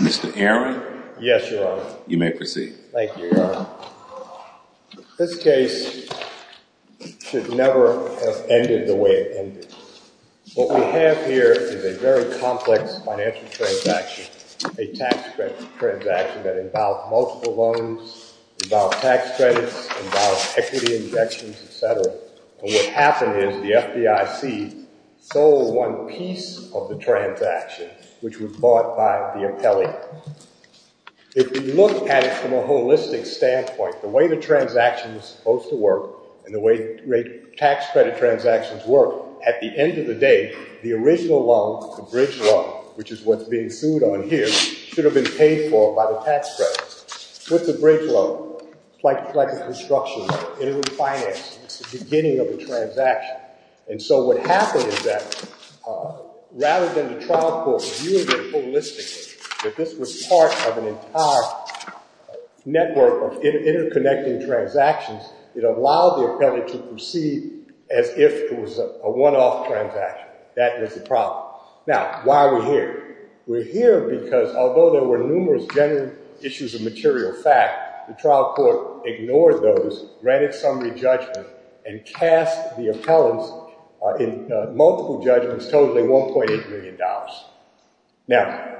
Mr. Airey. Yes, Your Honor. You may proceed. Thank you, Your Honor. This case should never have ended the way it ended. What we have here is a very complex financial transaction, a tax credit transaction that involved multiple loans, involved tax credits, involved equity injections, et cetera. And what happened is the FDIC sold one piece of the transaction, which was bought by the appellee. If we look at it from a holistic standpoint, the way the transaction was supposed to work and the way tax credit transactions work, at the end of the day, the original loan, the bridge loan, which is what's being sued on here, should have been paid for by the tax credit. With the bridge loan, like a construction, it would finance the beginning of the transaction. And so what happened is that rather than the trial court viewing it holistically, that this was part of an entire network of interconnecting transactions, it allowed the appellee to proceed as if it was a one-off transaction. That was the problem. Now, why are we here? We're here because although there were numerous general issues of material fact, the trial court ignored those, granted summary judgment, and cast the appellants in multiple judgments totaling $1.8 million. Now,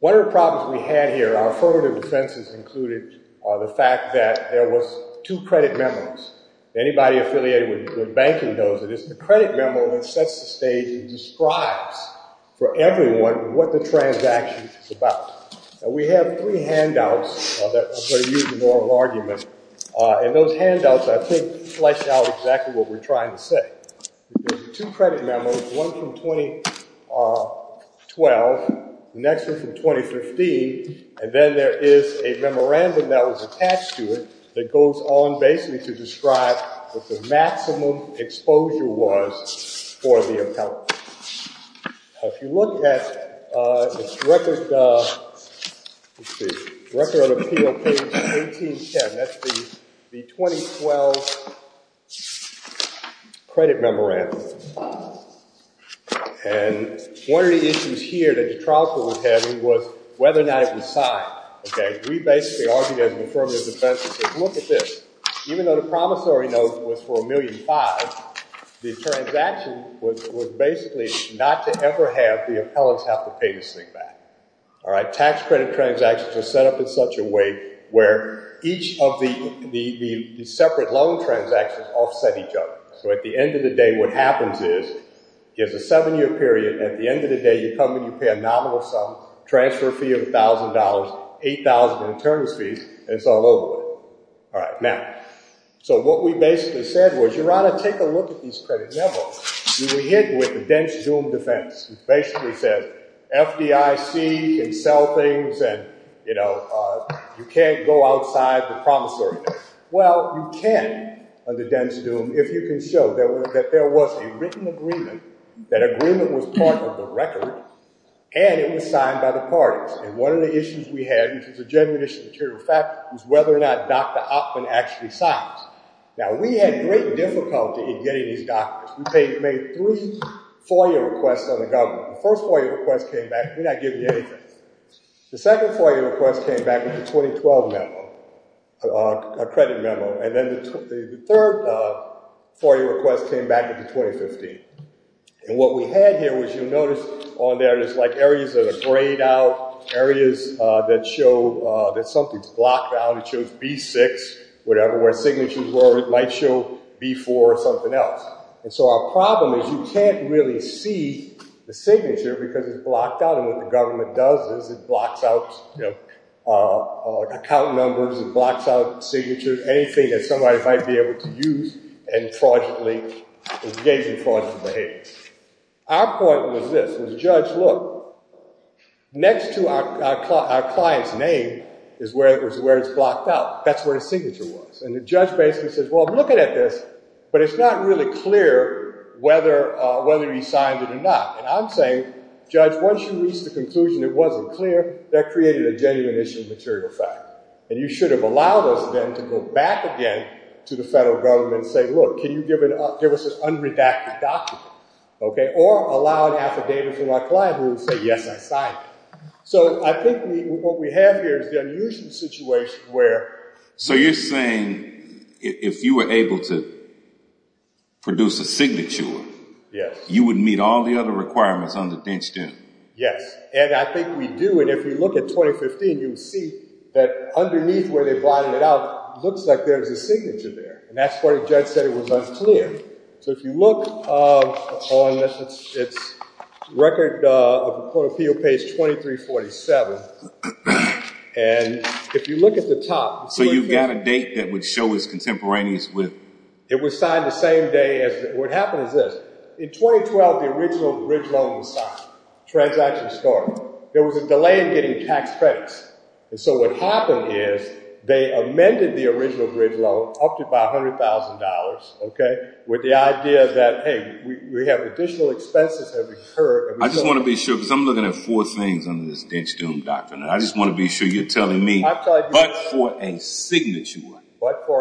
one of the problems we had here, our affirmative defenses included the fact that there was two credit memos. Anybody affiliated with banking knows that it's the credit memo that sets the stage and describes for everyone what the transaction is about. Now, we have three handouts that are going to use the normal argument. And those handouts, I think, flesh out exactly what we're trying to say. There's two credit memos, one from 2012, the next one from 2015, and then there is a memorandum that was attached to it that goes on basically to describe what the maximum exposure was for the appellant. Now, if you look at the record of appeal page 1810, that's the 2012 credit memorandum. And one of the issues here that the trial court was having was whether or not it was signed. Okay? We basically argued as an affirmative defense, we said, look at this. Even though the promissory note was for $1.5 million, the transaction was basically not to ever have the appellants have to pay this thing back. All right? Tax credit transactions are set up in such a way where each of the separate loan transactions offset each other. So at the end of the day, what happens is, there's a seven-year period. At the end of the day, you come and you pay a nominal sum, transfer fee of $1,000, $8,000 in credit memo, you were hit with a dense doom defense. It basically says, FDIC can sell things and, you know, you can't go outside the promissory note. Well, you can, under dense doom, if you can show that there was a written agreement, that agreement was part of the record, and it was signed by the parties. And one of the issues we had, which is a general issue, material fact, is whether or not Dr. Oppen actually signed. Now, we had great difficulty in getting these documents. We made three FOIA requests on the government. The first FOIA request came back, we're not giving you anything. The second FOIA request came back with a 2012 memo, a credit memo. And then the third FOIA request came back with the 2015. And what we had here was, you'll notice on there, there's like areas that are grayed out, areas that show that something's blocked out. It shows B6, whatever, where signatures were, it might show B4 or something else. And so our problem is, you can't really see the signature because it's blocked out. And what the government does is, it blocks out, you know, account numbers, it blocks out signatures, anything that somebody might be able to use, and fraudulently, it gives you fraudulent behavior. Our point was this, was judge, look, next to our client's name is where it's blocked out. That's where the signature was. And the judge basically says, well, I'm looking at this, but it's not really clear whether he signed it or not. And I'm saying, judge, once you reach the conclusion it wasn't clear, that created a genuine issue of material fact. And you should have allowed us then to go back again to the federal government and say, look, can you give us an unredacted document, okay, or allow an affidavit from our client who would say, yes, I signed it. So I think what we have here is the unusual situation where... So you're saying, if you were able to produce a signature, you would meet all the other requirements under DENCHGEN? Yes, and I think we do. And if you look at 2015, you'll see that underneath where they blotted it out, it looks like there's a signature there. And that's it was unclear. So if you look on this, it's record of the court of appeal page 2347. And if you look at the top... So you've got a date that would show his contemporaneous with... It was signed the same day as... What happened is this. In 2012, the original bridge loan was signed. Transaction started. There was a delay in getting tax credits. And so what happened is they amended the original bridge loan up to about $100,000, okay, with the idea that, hey, we have additional expenses have occurred. I just want to be sure, because I'm looking at four things under this DENCHGEN document. I just want to be sure you're telling me, but for a signature,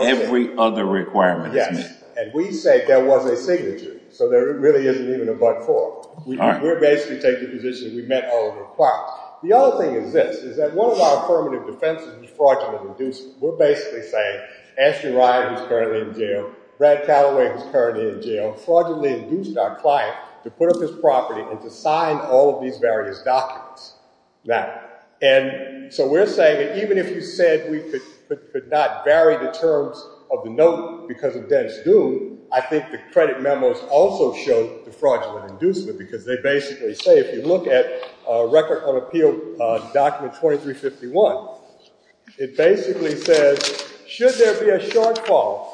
every other requirement is met. Yes, and we say there was a signature. So there really isn't even a but for. We're basically taking the position that we met all the requirements. The other thing is this, that one of our affirmative defenses is fraudulent inducement. We're basically saying Ashton Ryan, who's currently in jail, Brad Calloway, who's currently in jail, fraudulently induced our client to put up his property and to sign all of these various documents. Now, and so we're saying that even if you said we could not vary the terms of the note because of DENCHGEN, I think the credit memos also show the fraudulent inducement, because they basically say if you look at record on appeal document 2351, it basically says, should there be a shortfall,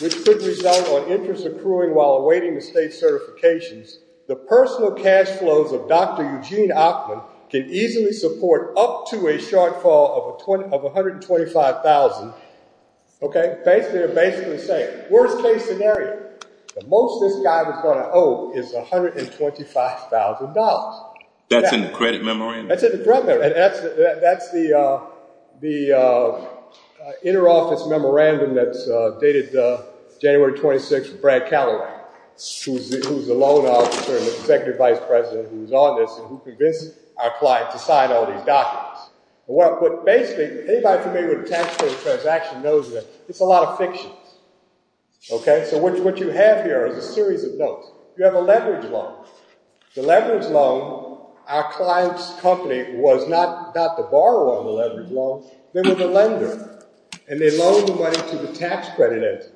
which could result on interest accruing while awaiting the state certifications, the personal cash flows of Dr. Eugene Ackman can easily support up to a shortfall of 125,000. Okay. Basically, they're basically saying worst case scenario, the most this guy was going to owe is $125,000. That's in the credit memorandum? That's in the credit memorandum. And that's the interoffice memorandum that's dated January 26, Brad Calloway, who's the loan officer and the executive vice president who was on this and who convinced our client to sign all these documents. But basically, anybody familiar with a tax credit transaction knows that it's a lot of fiction. Okay? So what you have here is a series of notes. You have a leverage loan. The leverage loan, our client's company was not to borrow on the leverage loan. They were the lender, and they loaned the money to the tax credit entity.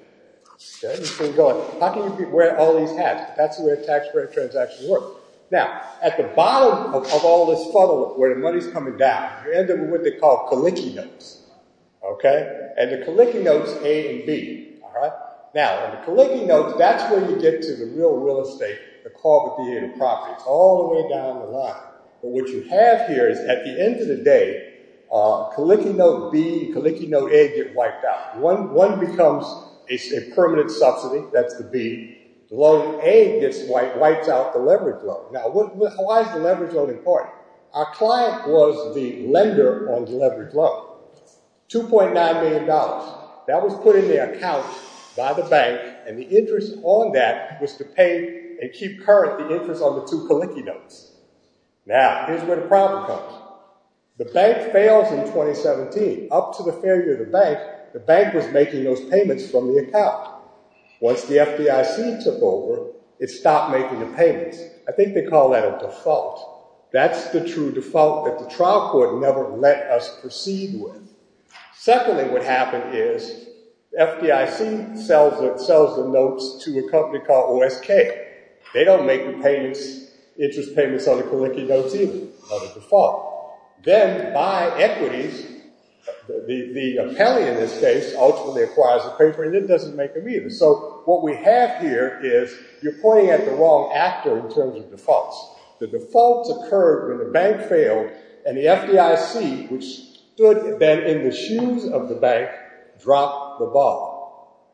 How can you wear all these hats? That's the way a tax credit transaction works. Now, at the bottom of all this funnel where the money's coming down, you end up with what they call calicke notes. Okay? And the calicke notes A and B, all right? Now, in the calicke notes, that's where you get to the real real estate, the corporate behavior properties, all the way down the line. But what you have here is at the end of the day, calicke note B, calicke note A get wiped out. One becomes a permanent subsidy. That's the B. The loan A gets wiped out, the leverage loan. Now, why is the leverage loan important? Our client was the lender on the leverage loan. $2.9 million. That was put in the account by the bank, and the interest on that was to pay and keep current the interest on the two calicke notes. Now, here's where the problem comes. The bank fails in 2017. Up to the failure of the bank, the bank was making those payments from the account. Once the FDIC took over, it stopped making the payments. I think they call that a default. That's the true default that the trial court never let us proceed with. Secondly, what happened is FDIC sells the notes to a company called OSK. They don't make the payments, interest payments on the calicke notes either, on the default. Then by equities, the appellee in this case ultimately acquires the note. It doesn't make them either. What we have here is you're pointing at the wrong actor in terms of defaults. The defaults occurred when the bank failed, and the FDIC, which stood then in the shoes of the bank, dropped the ball.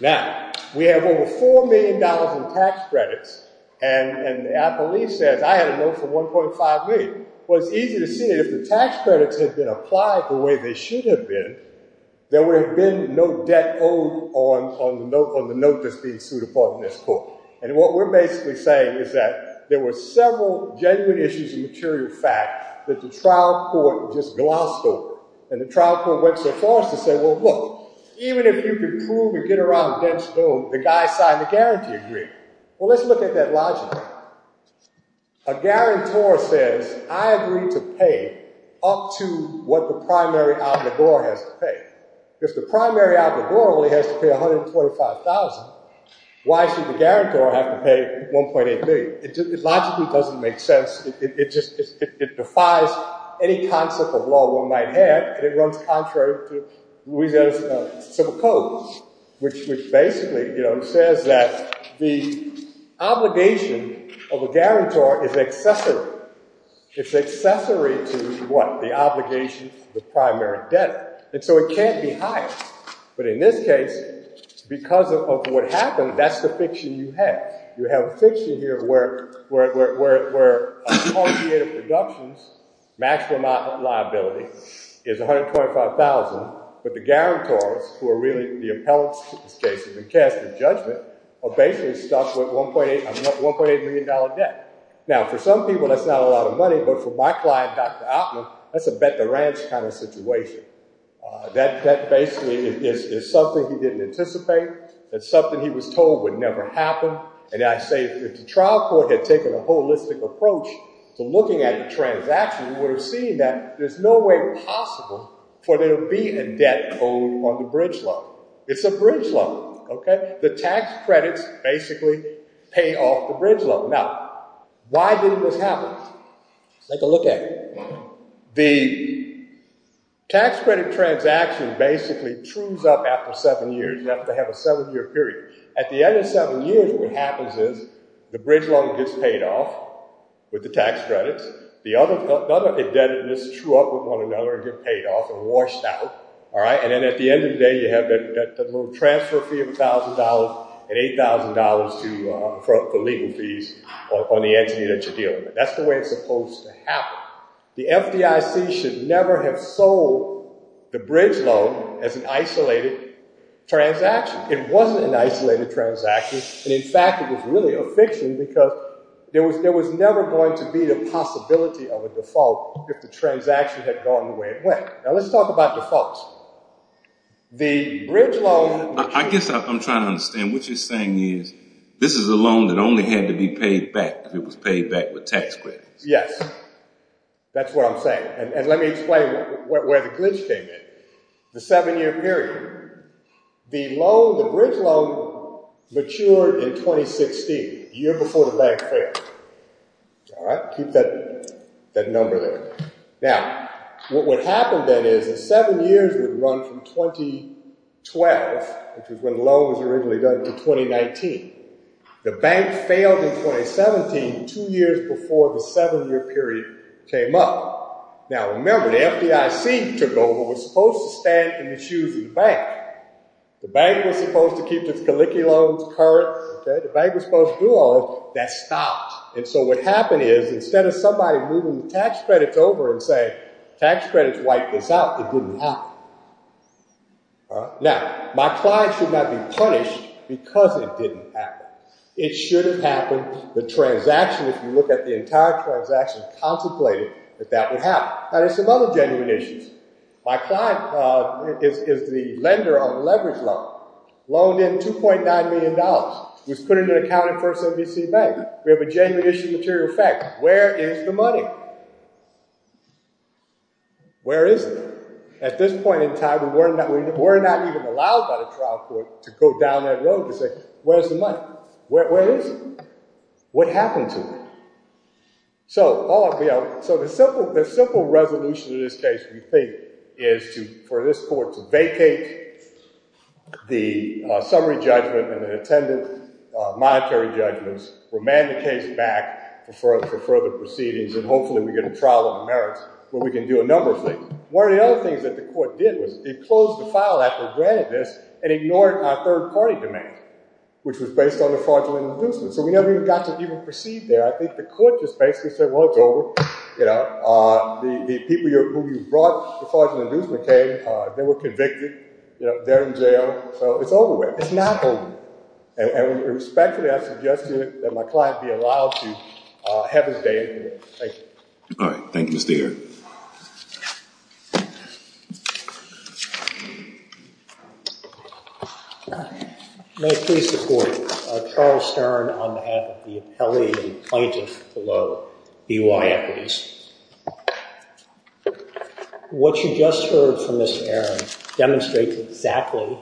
Now, we have over $4 million in tax credits, and the appellee says, I had a note for $1.5 million. Well, it's easy to see that if the tax credits had been the way they should have been, there would have been no debt owed on the note that's being sued upon in this court. What we're basically saying is that there were several genuine issues of material fact that the trial court just glossed over. The trial court went so far as to say, well, look, even if you could prove and get around a dense bill, the guy signed the guarantee agreement. Well, let's look at that logically. A guarantor says, I agree to pay up to what the primary outlaw has to pay. If the primary outlaw only has to pay $125,000, why should the guarantor have to pay $1.8 million? It logically doesn't make sense. It defies any concept of law one had, and it runs contrary to Louisiana's civil code, which basically says that the obligation of a guarantor is accessory. It's accessory to what? The obligation to the primary debtor. So it can't be higher. But in this case, because of what happened, that's the fiction you have. You have a fiction here where appropriated deductions, maximum liability, is $125,000, but the guarantors, who are really the appellants in this case, have been cast in judgment, are basically stuck with $1.8 million debt. Now, for some people, that's not a lot of money. But for my client, Dr. Altman, that's a bet the ranch kind of situation. That basically is something he didn't anticipate, that something he was told would never happen. And I say, if the trial court had taken a holistic approach to looking at the transaction, we would have seen that there's no way possible for there to be a debt code on the bridge loan. It's a bridge loan. The tax credits basically pay off the bridge loan. Now, why didn't this happen? Let's take a look at it. The tax credit transaction basically trues up after seven years. You have to have a seven-year period. At the end of seven years, what happens is the bridge loan gets paid off with the tax credits. The other indebtedness true up with one another and get paid off and washed out, all right? And then at the end of the day, you have that little transfer fee of $1,000 and $8,000 for legal fees on the entity that you're dealing with. That's the way it's supposed to happen. The FDIC should never have sold the bridge loan as an isolated transaction. It wasn't an isolated transaction. And in fact, it was really a fiction because there was never going to be the possibility of a default if the transaction had gone the way it went. Now, let's talk about defaults. The bridge loan... I guess I'm trying to understand. What you're saying is this is a loan that only had to be paid back if it was paid back with tax credits. Yes. That's what I'm saying. And let me explain where the glitch came in. The seven-year period, the loan, the bridge loan matured in 2016, a year before the bank failed, all right? Keep that number there. Now, what would happen then is the seven years would run from 2012, which is when the loan was originally done, to 2019. The bank failed in 2017, two years before the seven-year period came up. Now, remember, the FDIC took over. It was supposed to stand in the shoes of the bank. The bank was supposed to keep its collicky loans, currents, okay? The bank was supposed to do all this. That stopped. And so what happened is instead of somebody moving the tax credits over and saying, tax credits wiped this out, it didn't happen. Now, my client should not be punished because it didn't happen. It should have happened. The transaction, if you look at the entire transaction, contemplated that that would happen. Now, there's some other genuine issues. My client is the lender on the leverage loan, loaned in $2.9 million, was put into account at First NBC Bank. We have a genuine issue of material facts. Where is the money? Where is it? At this point in time, we're not even allowed by the trial court to go down that road to say, where's the money? Where is it? What happened to it? So the simple resolution to this case, we think, is for this court to vacate the summary judgment and the intended monetary judgments, remand the case back for further proceedings, and hopefully we get a trial on merits where we can do a number of things. One of the other things that the court did was it closed the file after it granted this and ignored our third-party demand, which was based on the fraudulent inducement. So we never even got to even proceed there. I think the court just basically said, well, it's over. The people who you brought the fraudulent inducement came, they were convicted, they're in jail, so it's over with. It's not over. And respectfully, I suggest to you that my client be allowed to have his day anyway. Thank you. All right. Thank you, Mr. Aaron. May I please support Charles Stern on behalf of the appellee and plaintiff below, BYU Equities. What you just heard from Mr. Aaron demonstrates exactly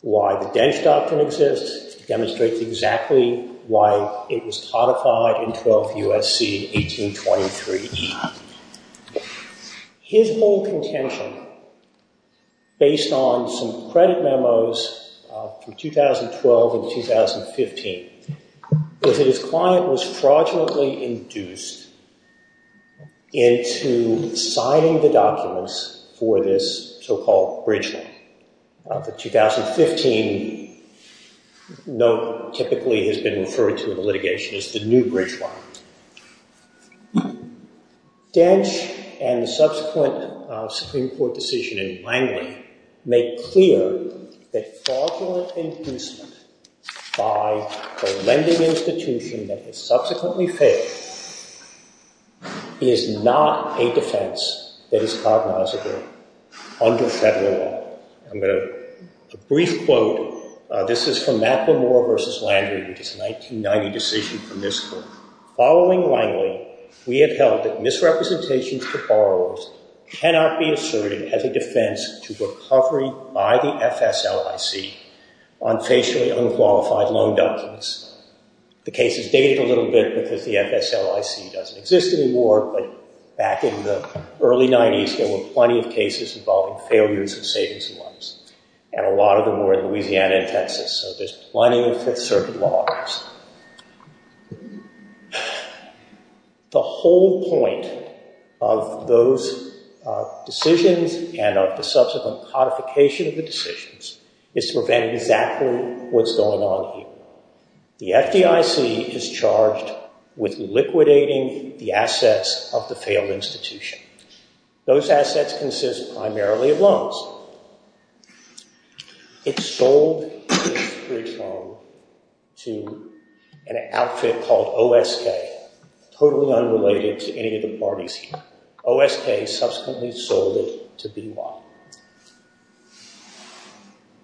why the Dench Doctrine exists, demonstrates exactly why it was codified in 12 U.S.C. 1823. His whole contention, based on some credit memos from 2012 and 2015, was that his client was fraudulently induced into signing the documents for this so-called bridge line. The 2015 note typically has been referred to in the litigation as the new bridge line. Dench and the subsequent Supreme Court decision in Langley made clear that fraudulent inducement by a lending institution that has subsequently failed is not a defense that is federal law. A brief quote. This is from Macklemore v. Landry, which is a 1990 decision from this court. Following Langley, we have held that misrepresentations to borrowers cannot be asserted as a defense to recovery by the FSLIC on facially unqualified loan documents. The case is dated a little bit because the FSLIC doesn't exist anymore, but back in the early cases involving failures and savings loans, and a lot of them were in Louisiana and Texas. So there's plenty of Fifth Circuit law. The whole point of those decisions and of the subsequent codification of the decisions is to prevent exactly what's going on here. The FDIC is charged with liquidating the assets of the failed institution. Those assets consist primarily of loans. It's sold to an outfit called OSK, totally unrelated to any of the parties here. OSK subsequently sold it to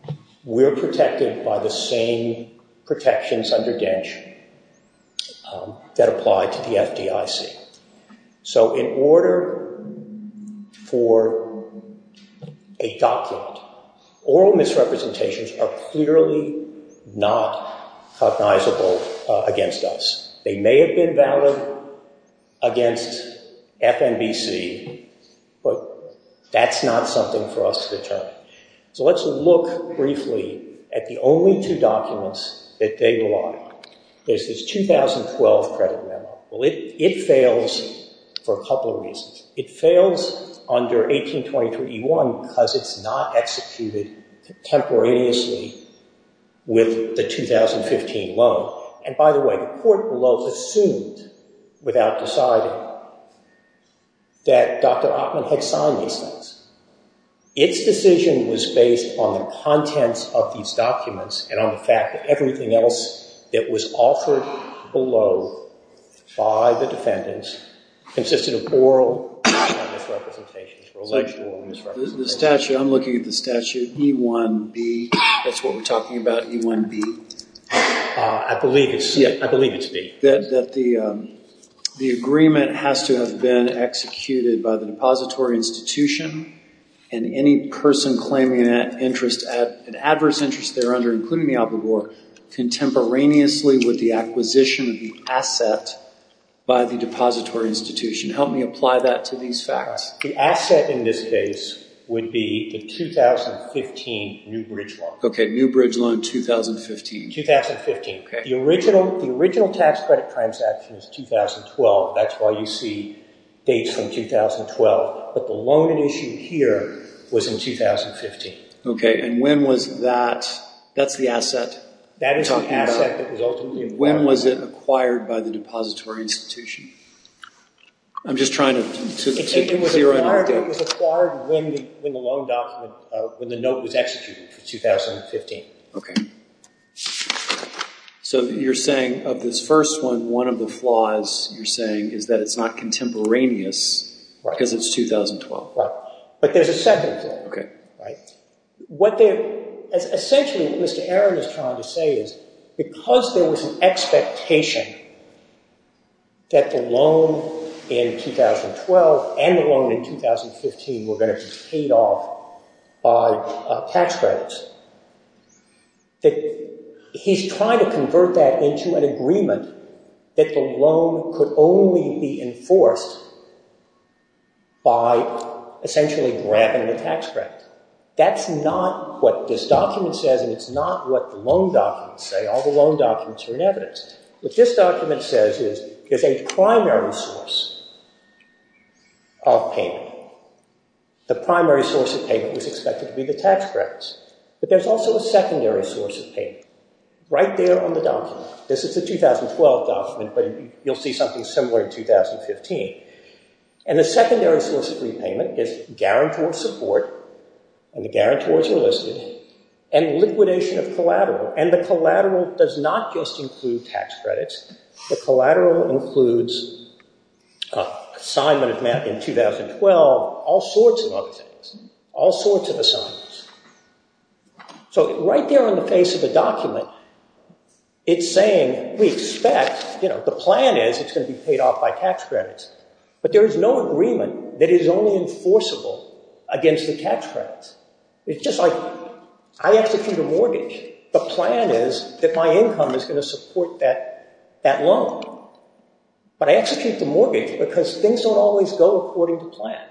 BY. We're protected by the same protections under DENCH that apply to the FDIC. So in order for a document, oral misrepresentations are clearly not cognizable against us. They may have been valid against FNBC, but that's not something for us to determine. So let's look briefly at the only two documents that they belie. There's this 2012 credit memo. Well, it fails for a couple of reasons. It fails under 1822E1 because it's not executed temporaneously with the 2015 loan. And by the way, the court below assumed without deciding that Dr. Oppmann had signed these things. Its decision was based on the contents of these documents and on the fact that everything else that was offered below by the defendants consisted of oral misrepresentations. The statute, I'm looking at the statute E1B. That's what we're talking about, E1B. I believe it's, yeah, I believe it's B. That the agreement has to have been executed by the depository institution and any person claiming that interest at an adverse interest they're under, including the obligor, contemporaneously with the acquisition of the The asset in this case would be the 2015 New Bridge Loan. Okay, New Bridge Loan 2015. 2015. The original tax credit transaction is 2012. That's why you see dates from 2012, but the loan at issue here was in 2015. Okay, and when was that, that's the asset? That is the asset that was ultimately acquired. When was it acquired by the depository institution? I'm just trying to see what you're saying. It was acquired when the loan document, when the note was executed for 2015. Okay, so you're saying of this first one, one of the flaws you're saying is that it's not contemporaneous because it's 2012. Right, but there's a second flaw, right? What they're, essentially what Mr. Aaron is trying to say is because there was an expectation that the loan in 2012 and the loan in 2015 were going to be paid off by tax credits, that he's trying to convert that into an agreement that the loan could only be enforced by essentially grabbing the tax credit. That's not what this document says, and it's not what the loan documents say. All the loan documents are in evidence. What this document says is there's a primary source of payment. The primary source of payment was expected to be the tax credits, but there's also a secondary source of payment right there on the document. This is a 2012 document, but you'll see something similar in 2015. And the secondary source of repayment is guarantor support, and the guarantors are listed, and liquidation of collateral, and the collateral does not just include tax credits. The collateral includes assignment of math in 2012, all sorts of other things, all sorts of assignments. So right there on the face of the document, it's saying we expect, you know, the plan is it's going to be paid off by tax credits, but there is no agreement that is only enforceable against the tax credits. It's just like I execute a mortgage. The plan is that my income is going to support that loan, but I execute the mortgage because things don't always go according to plan.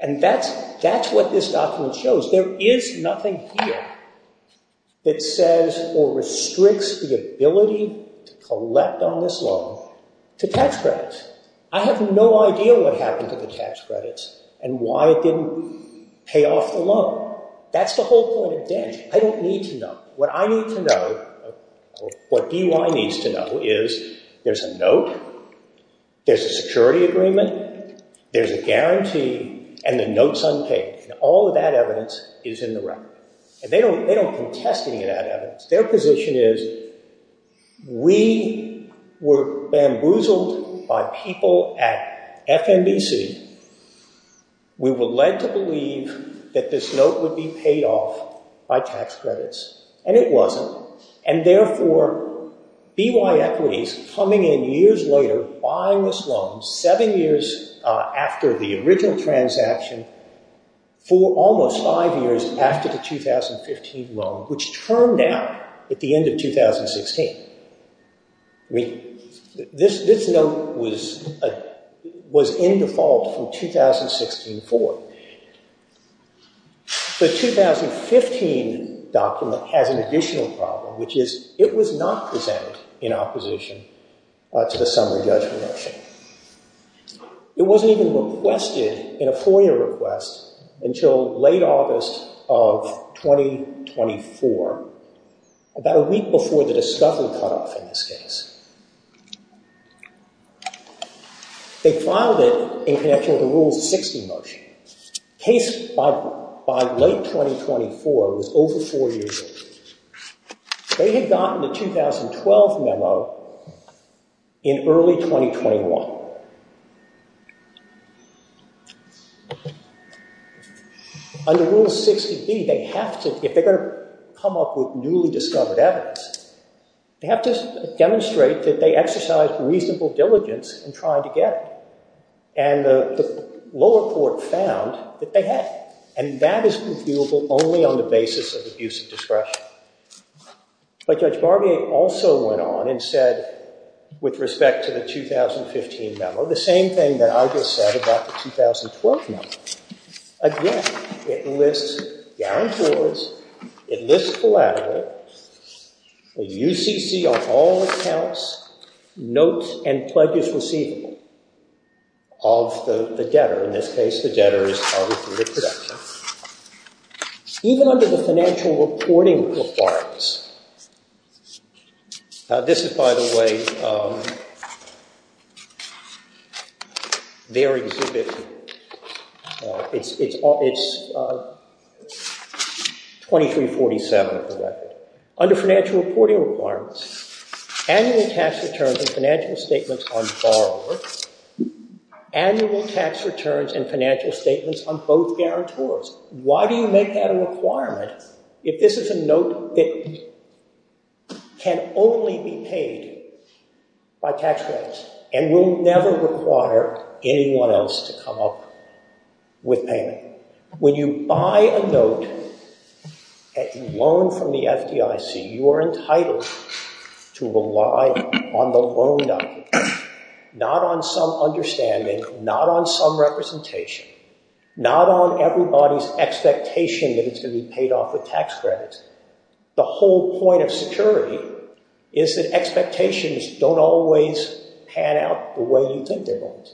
And that's what this document shows. There is nothing here that says or restricts the ability to collect on this loan to tax credits. I have no idea what happened to the tax credits and why it didn't pay off the loan. That's the whole point of damage. I don't need to know. What I need to know, what DUI needs to know is there's a note, there's a security agreement, there's a guarantee, and the note's unpaid. And all of that evidence is in the record. And they don't contest any of that evidence. Their position is we were bamboozled by people at FNBC. We were led to believe that this note would be paid off by tax credits, and it wasn't. And therefore, BY Equities coming in years later, buying this loan, seven years after the original transaction, for almost five years after the 2015 loan, which turned out at the end of 2016. I mean, this note was in default from 2016 forward. The 2015 document has an additional problem, which is it was not presented in opposition to the summary judgment motion. It wasn't even requested in a FOIA request until late August of 2024, about a week before the discovery cutoff in this case. They filed it in connection with the Rule 60 motion. The case by late 2024 was over four years old. They had gotten the 2012 memo in early 2021. Under Rule 60B, they have to, if they're going to come up with newly discovered evidence, they have to demonstrate that they exercised reasonable diligence in trying to get it. And the lower court found that they had. And that is reviewable only on the basis of abuse of discretion. But Judge Barbier also went on and said, with respect to the 2015 memo, the same thing that I just said about the 2012 memo. Again, it lists down towards, it lists collateral, the UCC of all accounts, notes, and pledges receivable of the debtor. In this case, the debtor is covered through the production. Even under the financial reporting requirements, this is, by the way, under their exhibition. It's 2347 of the record. Under financial reporting requirements, annual tax returns and financial statements on borrowers, annual tax returns and financial statements on both guarantors. Why do you make that a requirement? By tax credits. And we'll never require anyone else to come up with payment. When you buy a note, a loan from the FDIC, you are entitled to rely on the loan document, not on some understanding, not on some representation, not on everybody's expectation that it's going to be paid off with tax credits. The whole point of security is that expectations don't always pan out the way you think they're going to.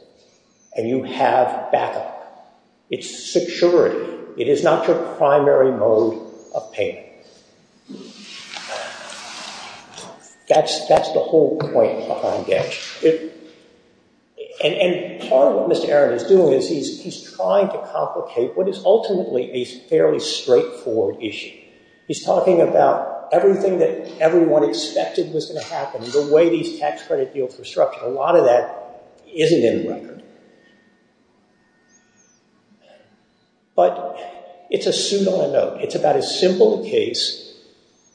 And you have backup. It's security. It is not your primary mode of payment. That's the whole point behind debt. And part of what Mr. Aaron is doing is he's trying to complicate what is ultimately a fairly straightforward issue. He's talking about everything that everyone expected was going to happen, the way these tax credit deals were structured. A lot of that isn't in the record. But it's a suit on a note. It's about as simple a case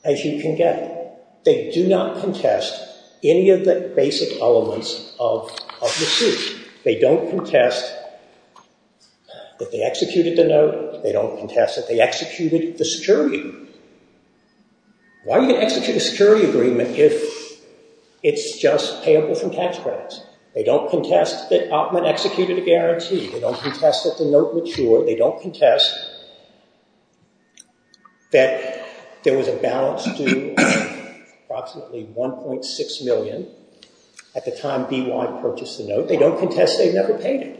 as you can get. They do not contest any of the basic elements of the suit. They don't contest that they executed the note. They don't contest that they executed the security agreement. Why would you execute a security agreement if it's just payable from tax credits? They don't contest that Oppmann executed a guarantee. They don't contest that the note matured. They don't contest that there was a balance due approximately $1.6 million at the time BY purchased the note. They don't contest they never paid it.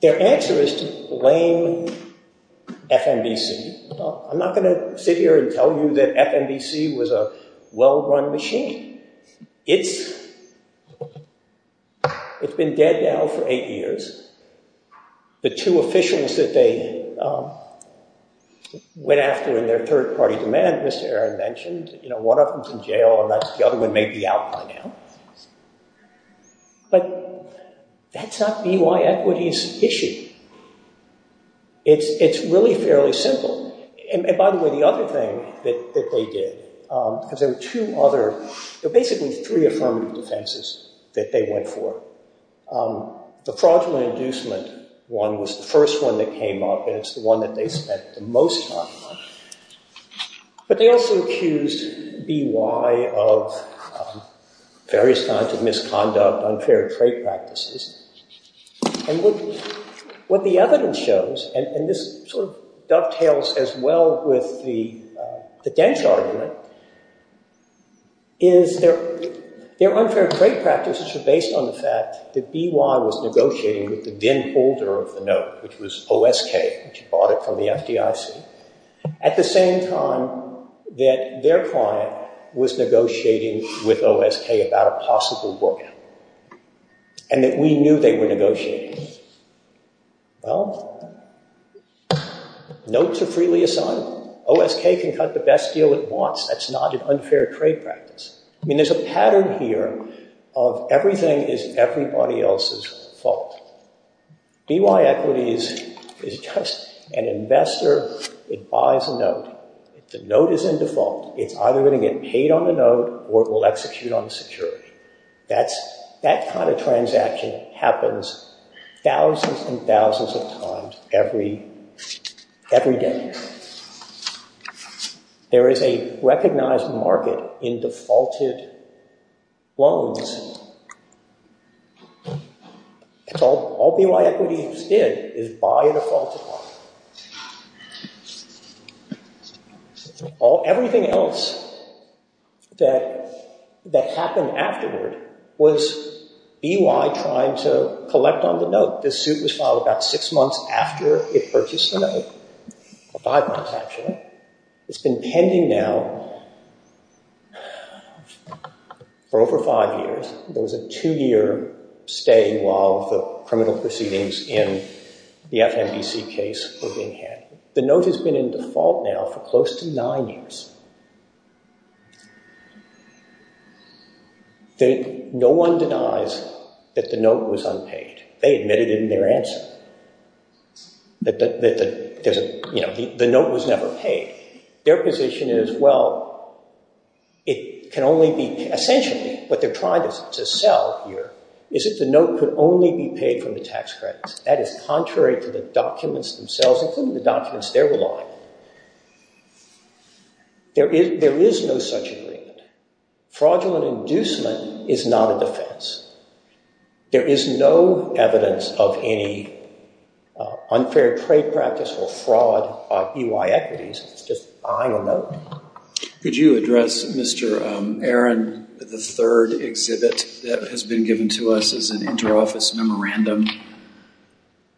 Their answer is to blame FNBC. I'm not going to sit here and tell you that FNBC was a well-run machine. It's been dead now for eight years. The two officials that they went after in their third-party demand, Mr. Aaron mentioned, one of them's in jail and the other one may be out by now. But that's not BY Equity's issue. It's really fairly simple. And by the way, the other thing that they did, because there were two other, there were basically three affirmative defenses that they went for. The fraudulent inducement one was the first one that came up and it's the one they spent the most time on. But they also accused BY of various kinds of misconduct, unfair trade practices. And what the evidence shows, and this sort of dovetails as well with the Dench argument, is their unfair trade practices were based on the fact that BY was negotiating with the then-holder of the note, which was OSK, which bought it from the FDIC, at the same time that their client was negotiating with OSK about a possible book and that we knew they were negotiating. Well, notes are freely assigned. OSK can cut the best deal it wants. That's not an unfair trade practice. I mean, there's a pattern here of everything is everybody else's fault. BY Equity is just an investor. It buys a note. The note is in default. It's either going to get paid on the note or it will execute on the security. That kind of transaction happens thousands and thousands of times every day. And there is a recognized market in defaulted loans. All BY Equity did is buy a defaulted one. Everything else that happened afterward was BY trying to collect on the note. This suit was filed about six months after it purchased the note. Five months, actually. It's been pending now for over five years. There was a two-year stay while the criminal proceedings in the FMBC case were being handled. The note has been in default now for close to nine years. No one denies that the note was unpaid. They admitted it in their answer that the note was never paid. Their position is, well, it can only be essentially what they're trying to sell here is that the note could only be paid from the tax credits. That is contrary to the documents themselves, including the documents they're relying on. There is no such agreement. Fraudulent inducement is not a defense. There is no evidence of any unfair trade practice or fraud by BY Equities. It's just buying a note. Could you address Mr. Aaron, the third exhibit that has been published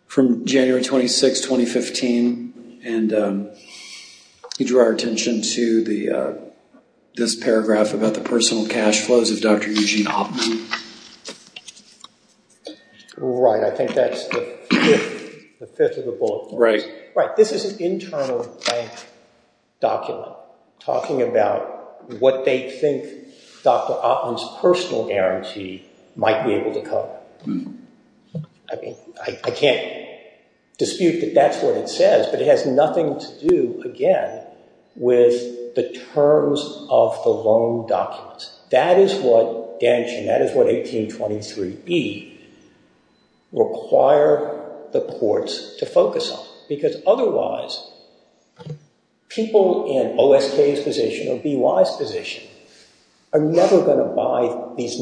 from January 26, 2015? He drew our attention to this paragraph about the personal cash flows of Dr. Eugene Oppmann. Right. I think that's the fifth of the bullet points. Right. This is an internal bank document talking about what they think Dr. Oppmann's personal guarantee might be able to cover. I mean, I can't dispute that that's what it says, but it has nothing to do, again, with the terms of the loan documents. That is what Dan Chin, that is what 1823B required the courts to focus on. Because otherwise, people in OSK's position or BY's position are never going to buy these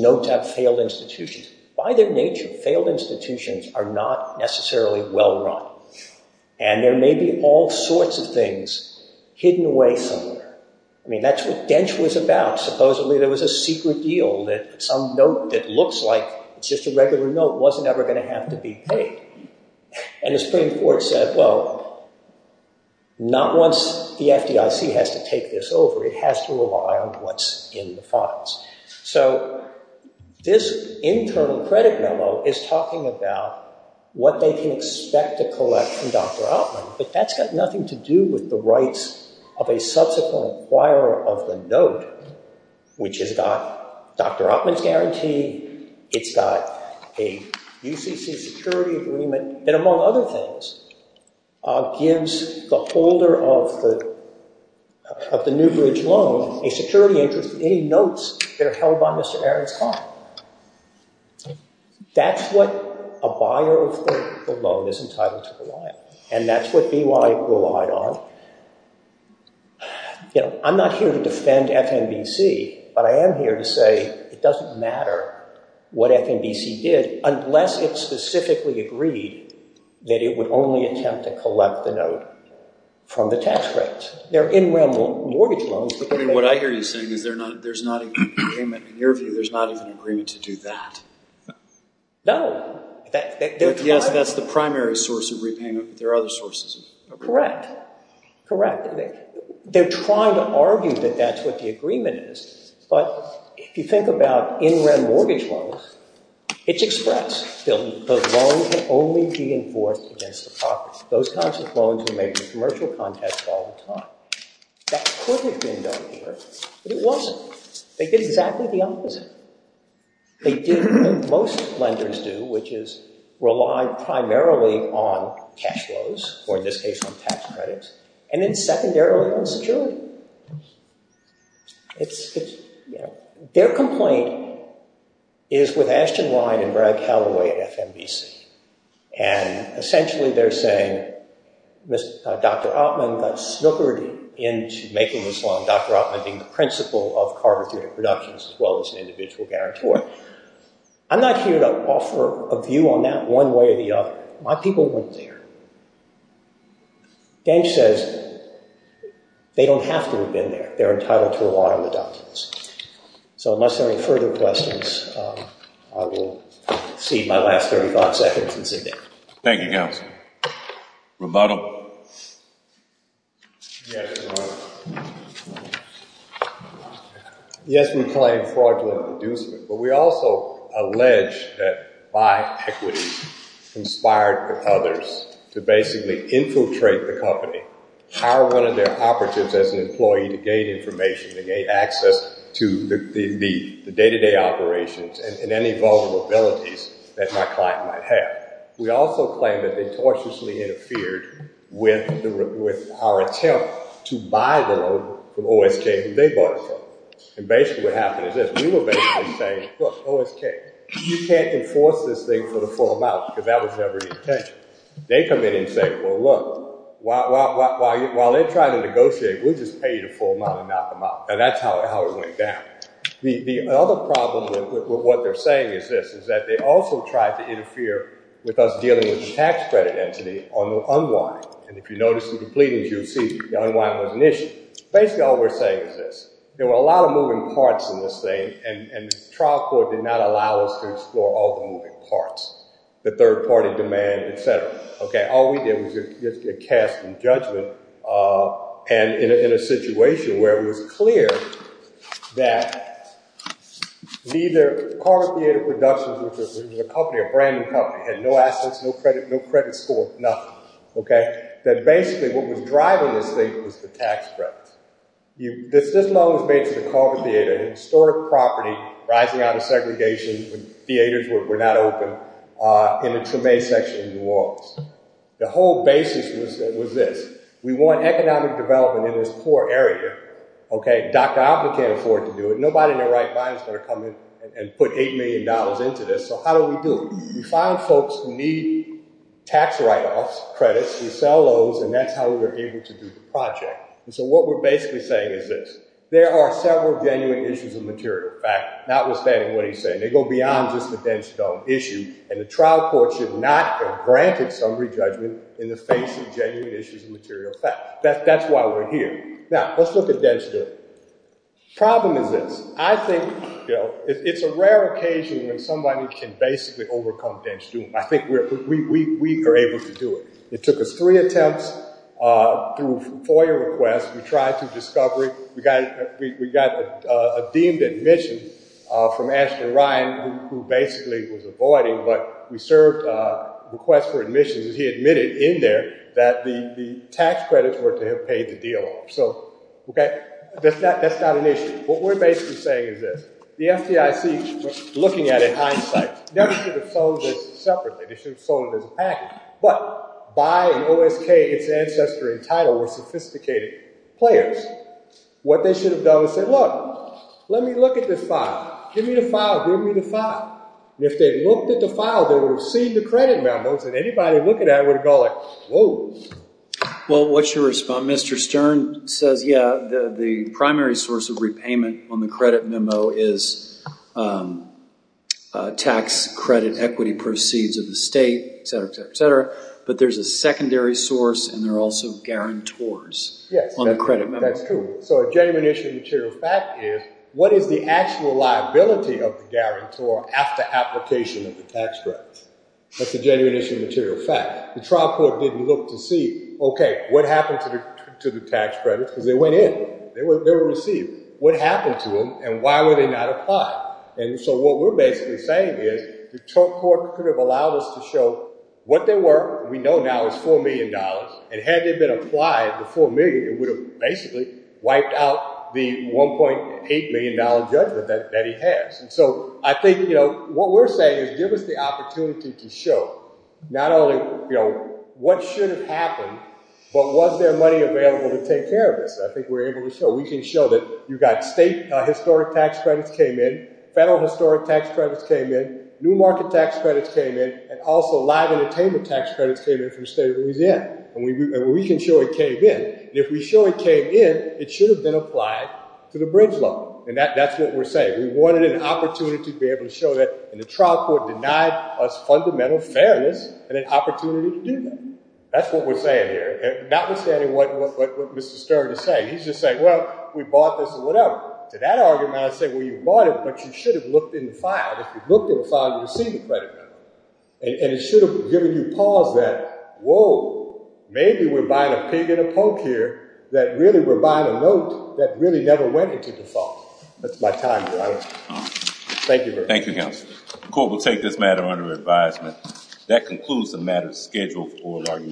failed institutions. By their nature, failed institutions are not necessarily well run. And there may be all sorts of things hidden away somewhere. I mean, that's what Dench was about. Supposedly, there was a secret deal that some note that looks like it's just a regular note wasn't ever going to have to be paid. And the Supreme Court said, well, not once the FDIC has to take this over. It has to rely on what's in the files. So this internal credit memo is talking about what they can expect to collect from Dr. Oppmann. But that's got nothing to do with the rights of a subsequent acquirer of the note, which has got Dr. Oppmann's guarantee. It's got a UCC security agreement that, among other things, gives the holder of the Newbridge loan a security interest with any notes that are held by Mr. Aron's client. That's what a buyer of the loan is entitled to rely on. And that's what BY relied on. I'm not here to defend FNBC. But I am here to say it doesn't matter what FNBC did unless it specifically agreed that it would only attempt to collect the note from the tax credits. They're in-realm mortgage loans. I mean, what I hear you saying is there's not even agreement. In your view, there's not even agreement to do that. No. Yes, that's the primary source of repayment. But there are other sources. Correct. Correct. They're trying to argue that that's what the agreement is. But if you think about in-realm mortgage loans, it's express. The loan can only be enforced against the property. Those kinds of loans are made in commercial contests all the time. That could have been done here, but it wasn't. They did exactly the opposite. They did what most lenders do, which is rely primarily on cash flows, or in this case on tax credits, and then secondarily on security. Their complaint is with Ashton Ryan and Brad Calloway at FNBC. And essentially, they're saying, Dr. Oppmann got snookered into making this loan, Dr. Oppmann being the principal of Carter Theoretic Productions, as well as an individual guarantor. I'm not here to offer a view on that one way or the other. My people weren't there. Gange says they don't have to have been there. They're entitled to rely on the documents. So unless there are any further questions, I will cede my last 30 thought seconds and sit down. Thank you, Counsel. Rebuttal. Yes, we claim fraudulent inducement, but we also allege that my equity conspired with others to basically infiltrate the company, hire one of their operatives as an employee to gain information, to gain access to the day-to-day operations and any vulnerabilities that my client might have. We also claim that they tortiously interfered with our attempt to buy the loan from OSK, who they bought it from. And basically what happened is this. We were basically saying, look, OSK, you can't enforce this thing for the full amount because that was never your intention. They come in and say, well, look, while they're trying to negotiate, we'll just pay you the full amount and knock them out. And that's how it went down. The other problem with what they're saying is this, is that they also tried to interfere with us dealing with the tax credit entity on the unwind. And if you notice the completings, you'll see the unwind was an issue. Basically, all we're saying is this. There were a lot of moving parts in this thing, and the trial court did not allow us to explore all the moving parts, the third-party demand, et cetera. All we did was just get cast in judgment and in a situation where it was clear that neither Carver Theater Productions, which was a company, a brand new company, had no assets, no credit score, nothing. That basically what was driving this thing was the tax credit. This loan was made to the Carver Theater, a historic property rising out of segregation when theaters were not open, in the Tremé section of New Orleans. The whole basis was this. We want economic development in this poor area. Dr. Oppen can't afford to do it. Nobody in their right mind is going to come in and put $8 million into this. So how do we do it? We find folks who need tax write-offs, credits. We sell those, and that's how we're able to do the project. So what we're basically saying is this. There are several genuine issues of material fact, notwithstanding what he's saying. They go beyond just the dense dome issue, and the trial court should not have granted summary judgment in the face of genuine issues of material fact. That's why we're here. Now, let's look at dense dome. Problem is this. I think it's a rare occasion when somebody can basically overcome dense dome. I think we are able to do it. It took us three attempts through FOIA requests. We tried through discovery. We got a deemed admission from Ashton Ryan, who basically was avoiding, but we served requests for admissions, and he admitted in there that the tax credits were to have paid the deal. So that's not an issue. What we're basically saying is this. The FDIC, looking at it in this package, but by an OSK, its ancestor and title were sophisticated players. What they should have done is said, look, let me look at this file. Give me the file. Give me the file. If they looked at the file, they would have seen the credit memos, and anybody looking at it would have gone like, whoa. Well, what's your response? Mr. Stern says, yeah, the primary source of repayment on the credit memo is tax credit equity proceeds of the state, etc., etc., etc., but there's a secondary source, and there are also guarantors on the credit memo. That's true. So a genuine issue of material fact is what is the actual liability of the guarantor after application of the tax credits? That's a genuine issue of material fact. The trial court didn't look to see, okay, what happened to the tax credits, because they went in. They were received. What happened to them, and why were they not applied? And so what we're basically saying is the trial court could have allowed us to show what they were. We know now it's $4 million, and had they been applied the $4 million, it would have basically wiped out the $1.8 million judgment that he has. And so I think, you know, what we're saying is give us the opportunity to show not only, you know, what should have happened, but was there money available to I think we're able to show. We can show that you got state historic tax credits came in, federal historic tax credits came in, new market tax credits came in, and also live entertainment tax credits came in from the State of Louisiana, and we can show it came in. And if we show it came in, it should have been applied to the bridge loan, and that's what we're saying. We wanted an opportunity to be able to show that, and the trial court denied us fundamental fairness and an opportunity to do that. That's what we're saying here, notwithstanding what Mr. Stern is saying. He's just saying, well, we bought this or whatever. To that argument, I say, well, you bought it, but you should have looked in the file. If you looked in the file, you would see the credit number, and it should have given you pause that, whoa, maybe we're buying a pig and a poke here that really we're buying a note that really never went into the file. That's my time here. Thank you very much. Thank you, counsel. The court will take this matter under advisement. That concludes the matter scheduled for our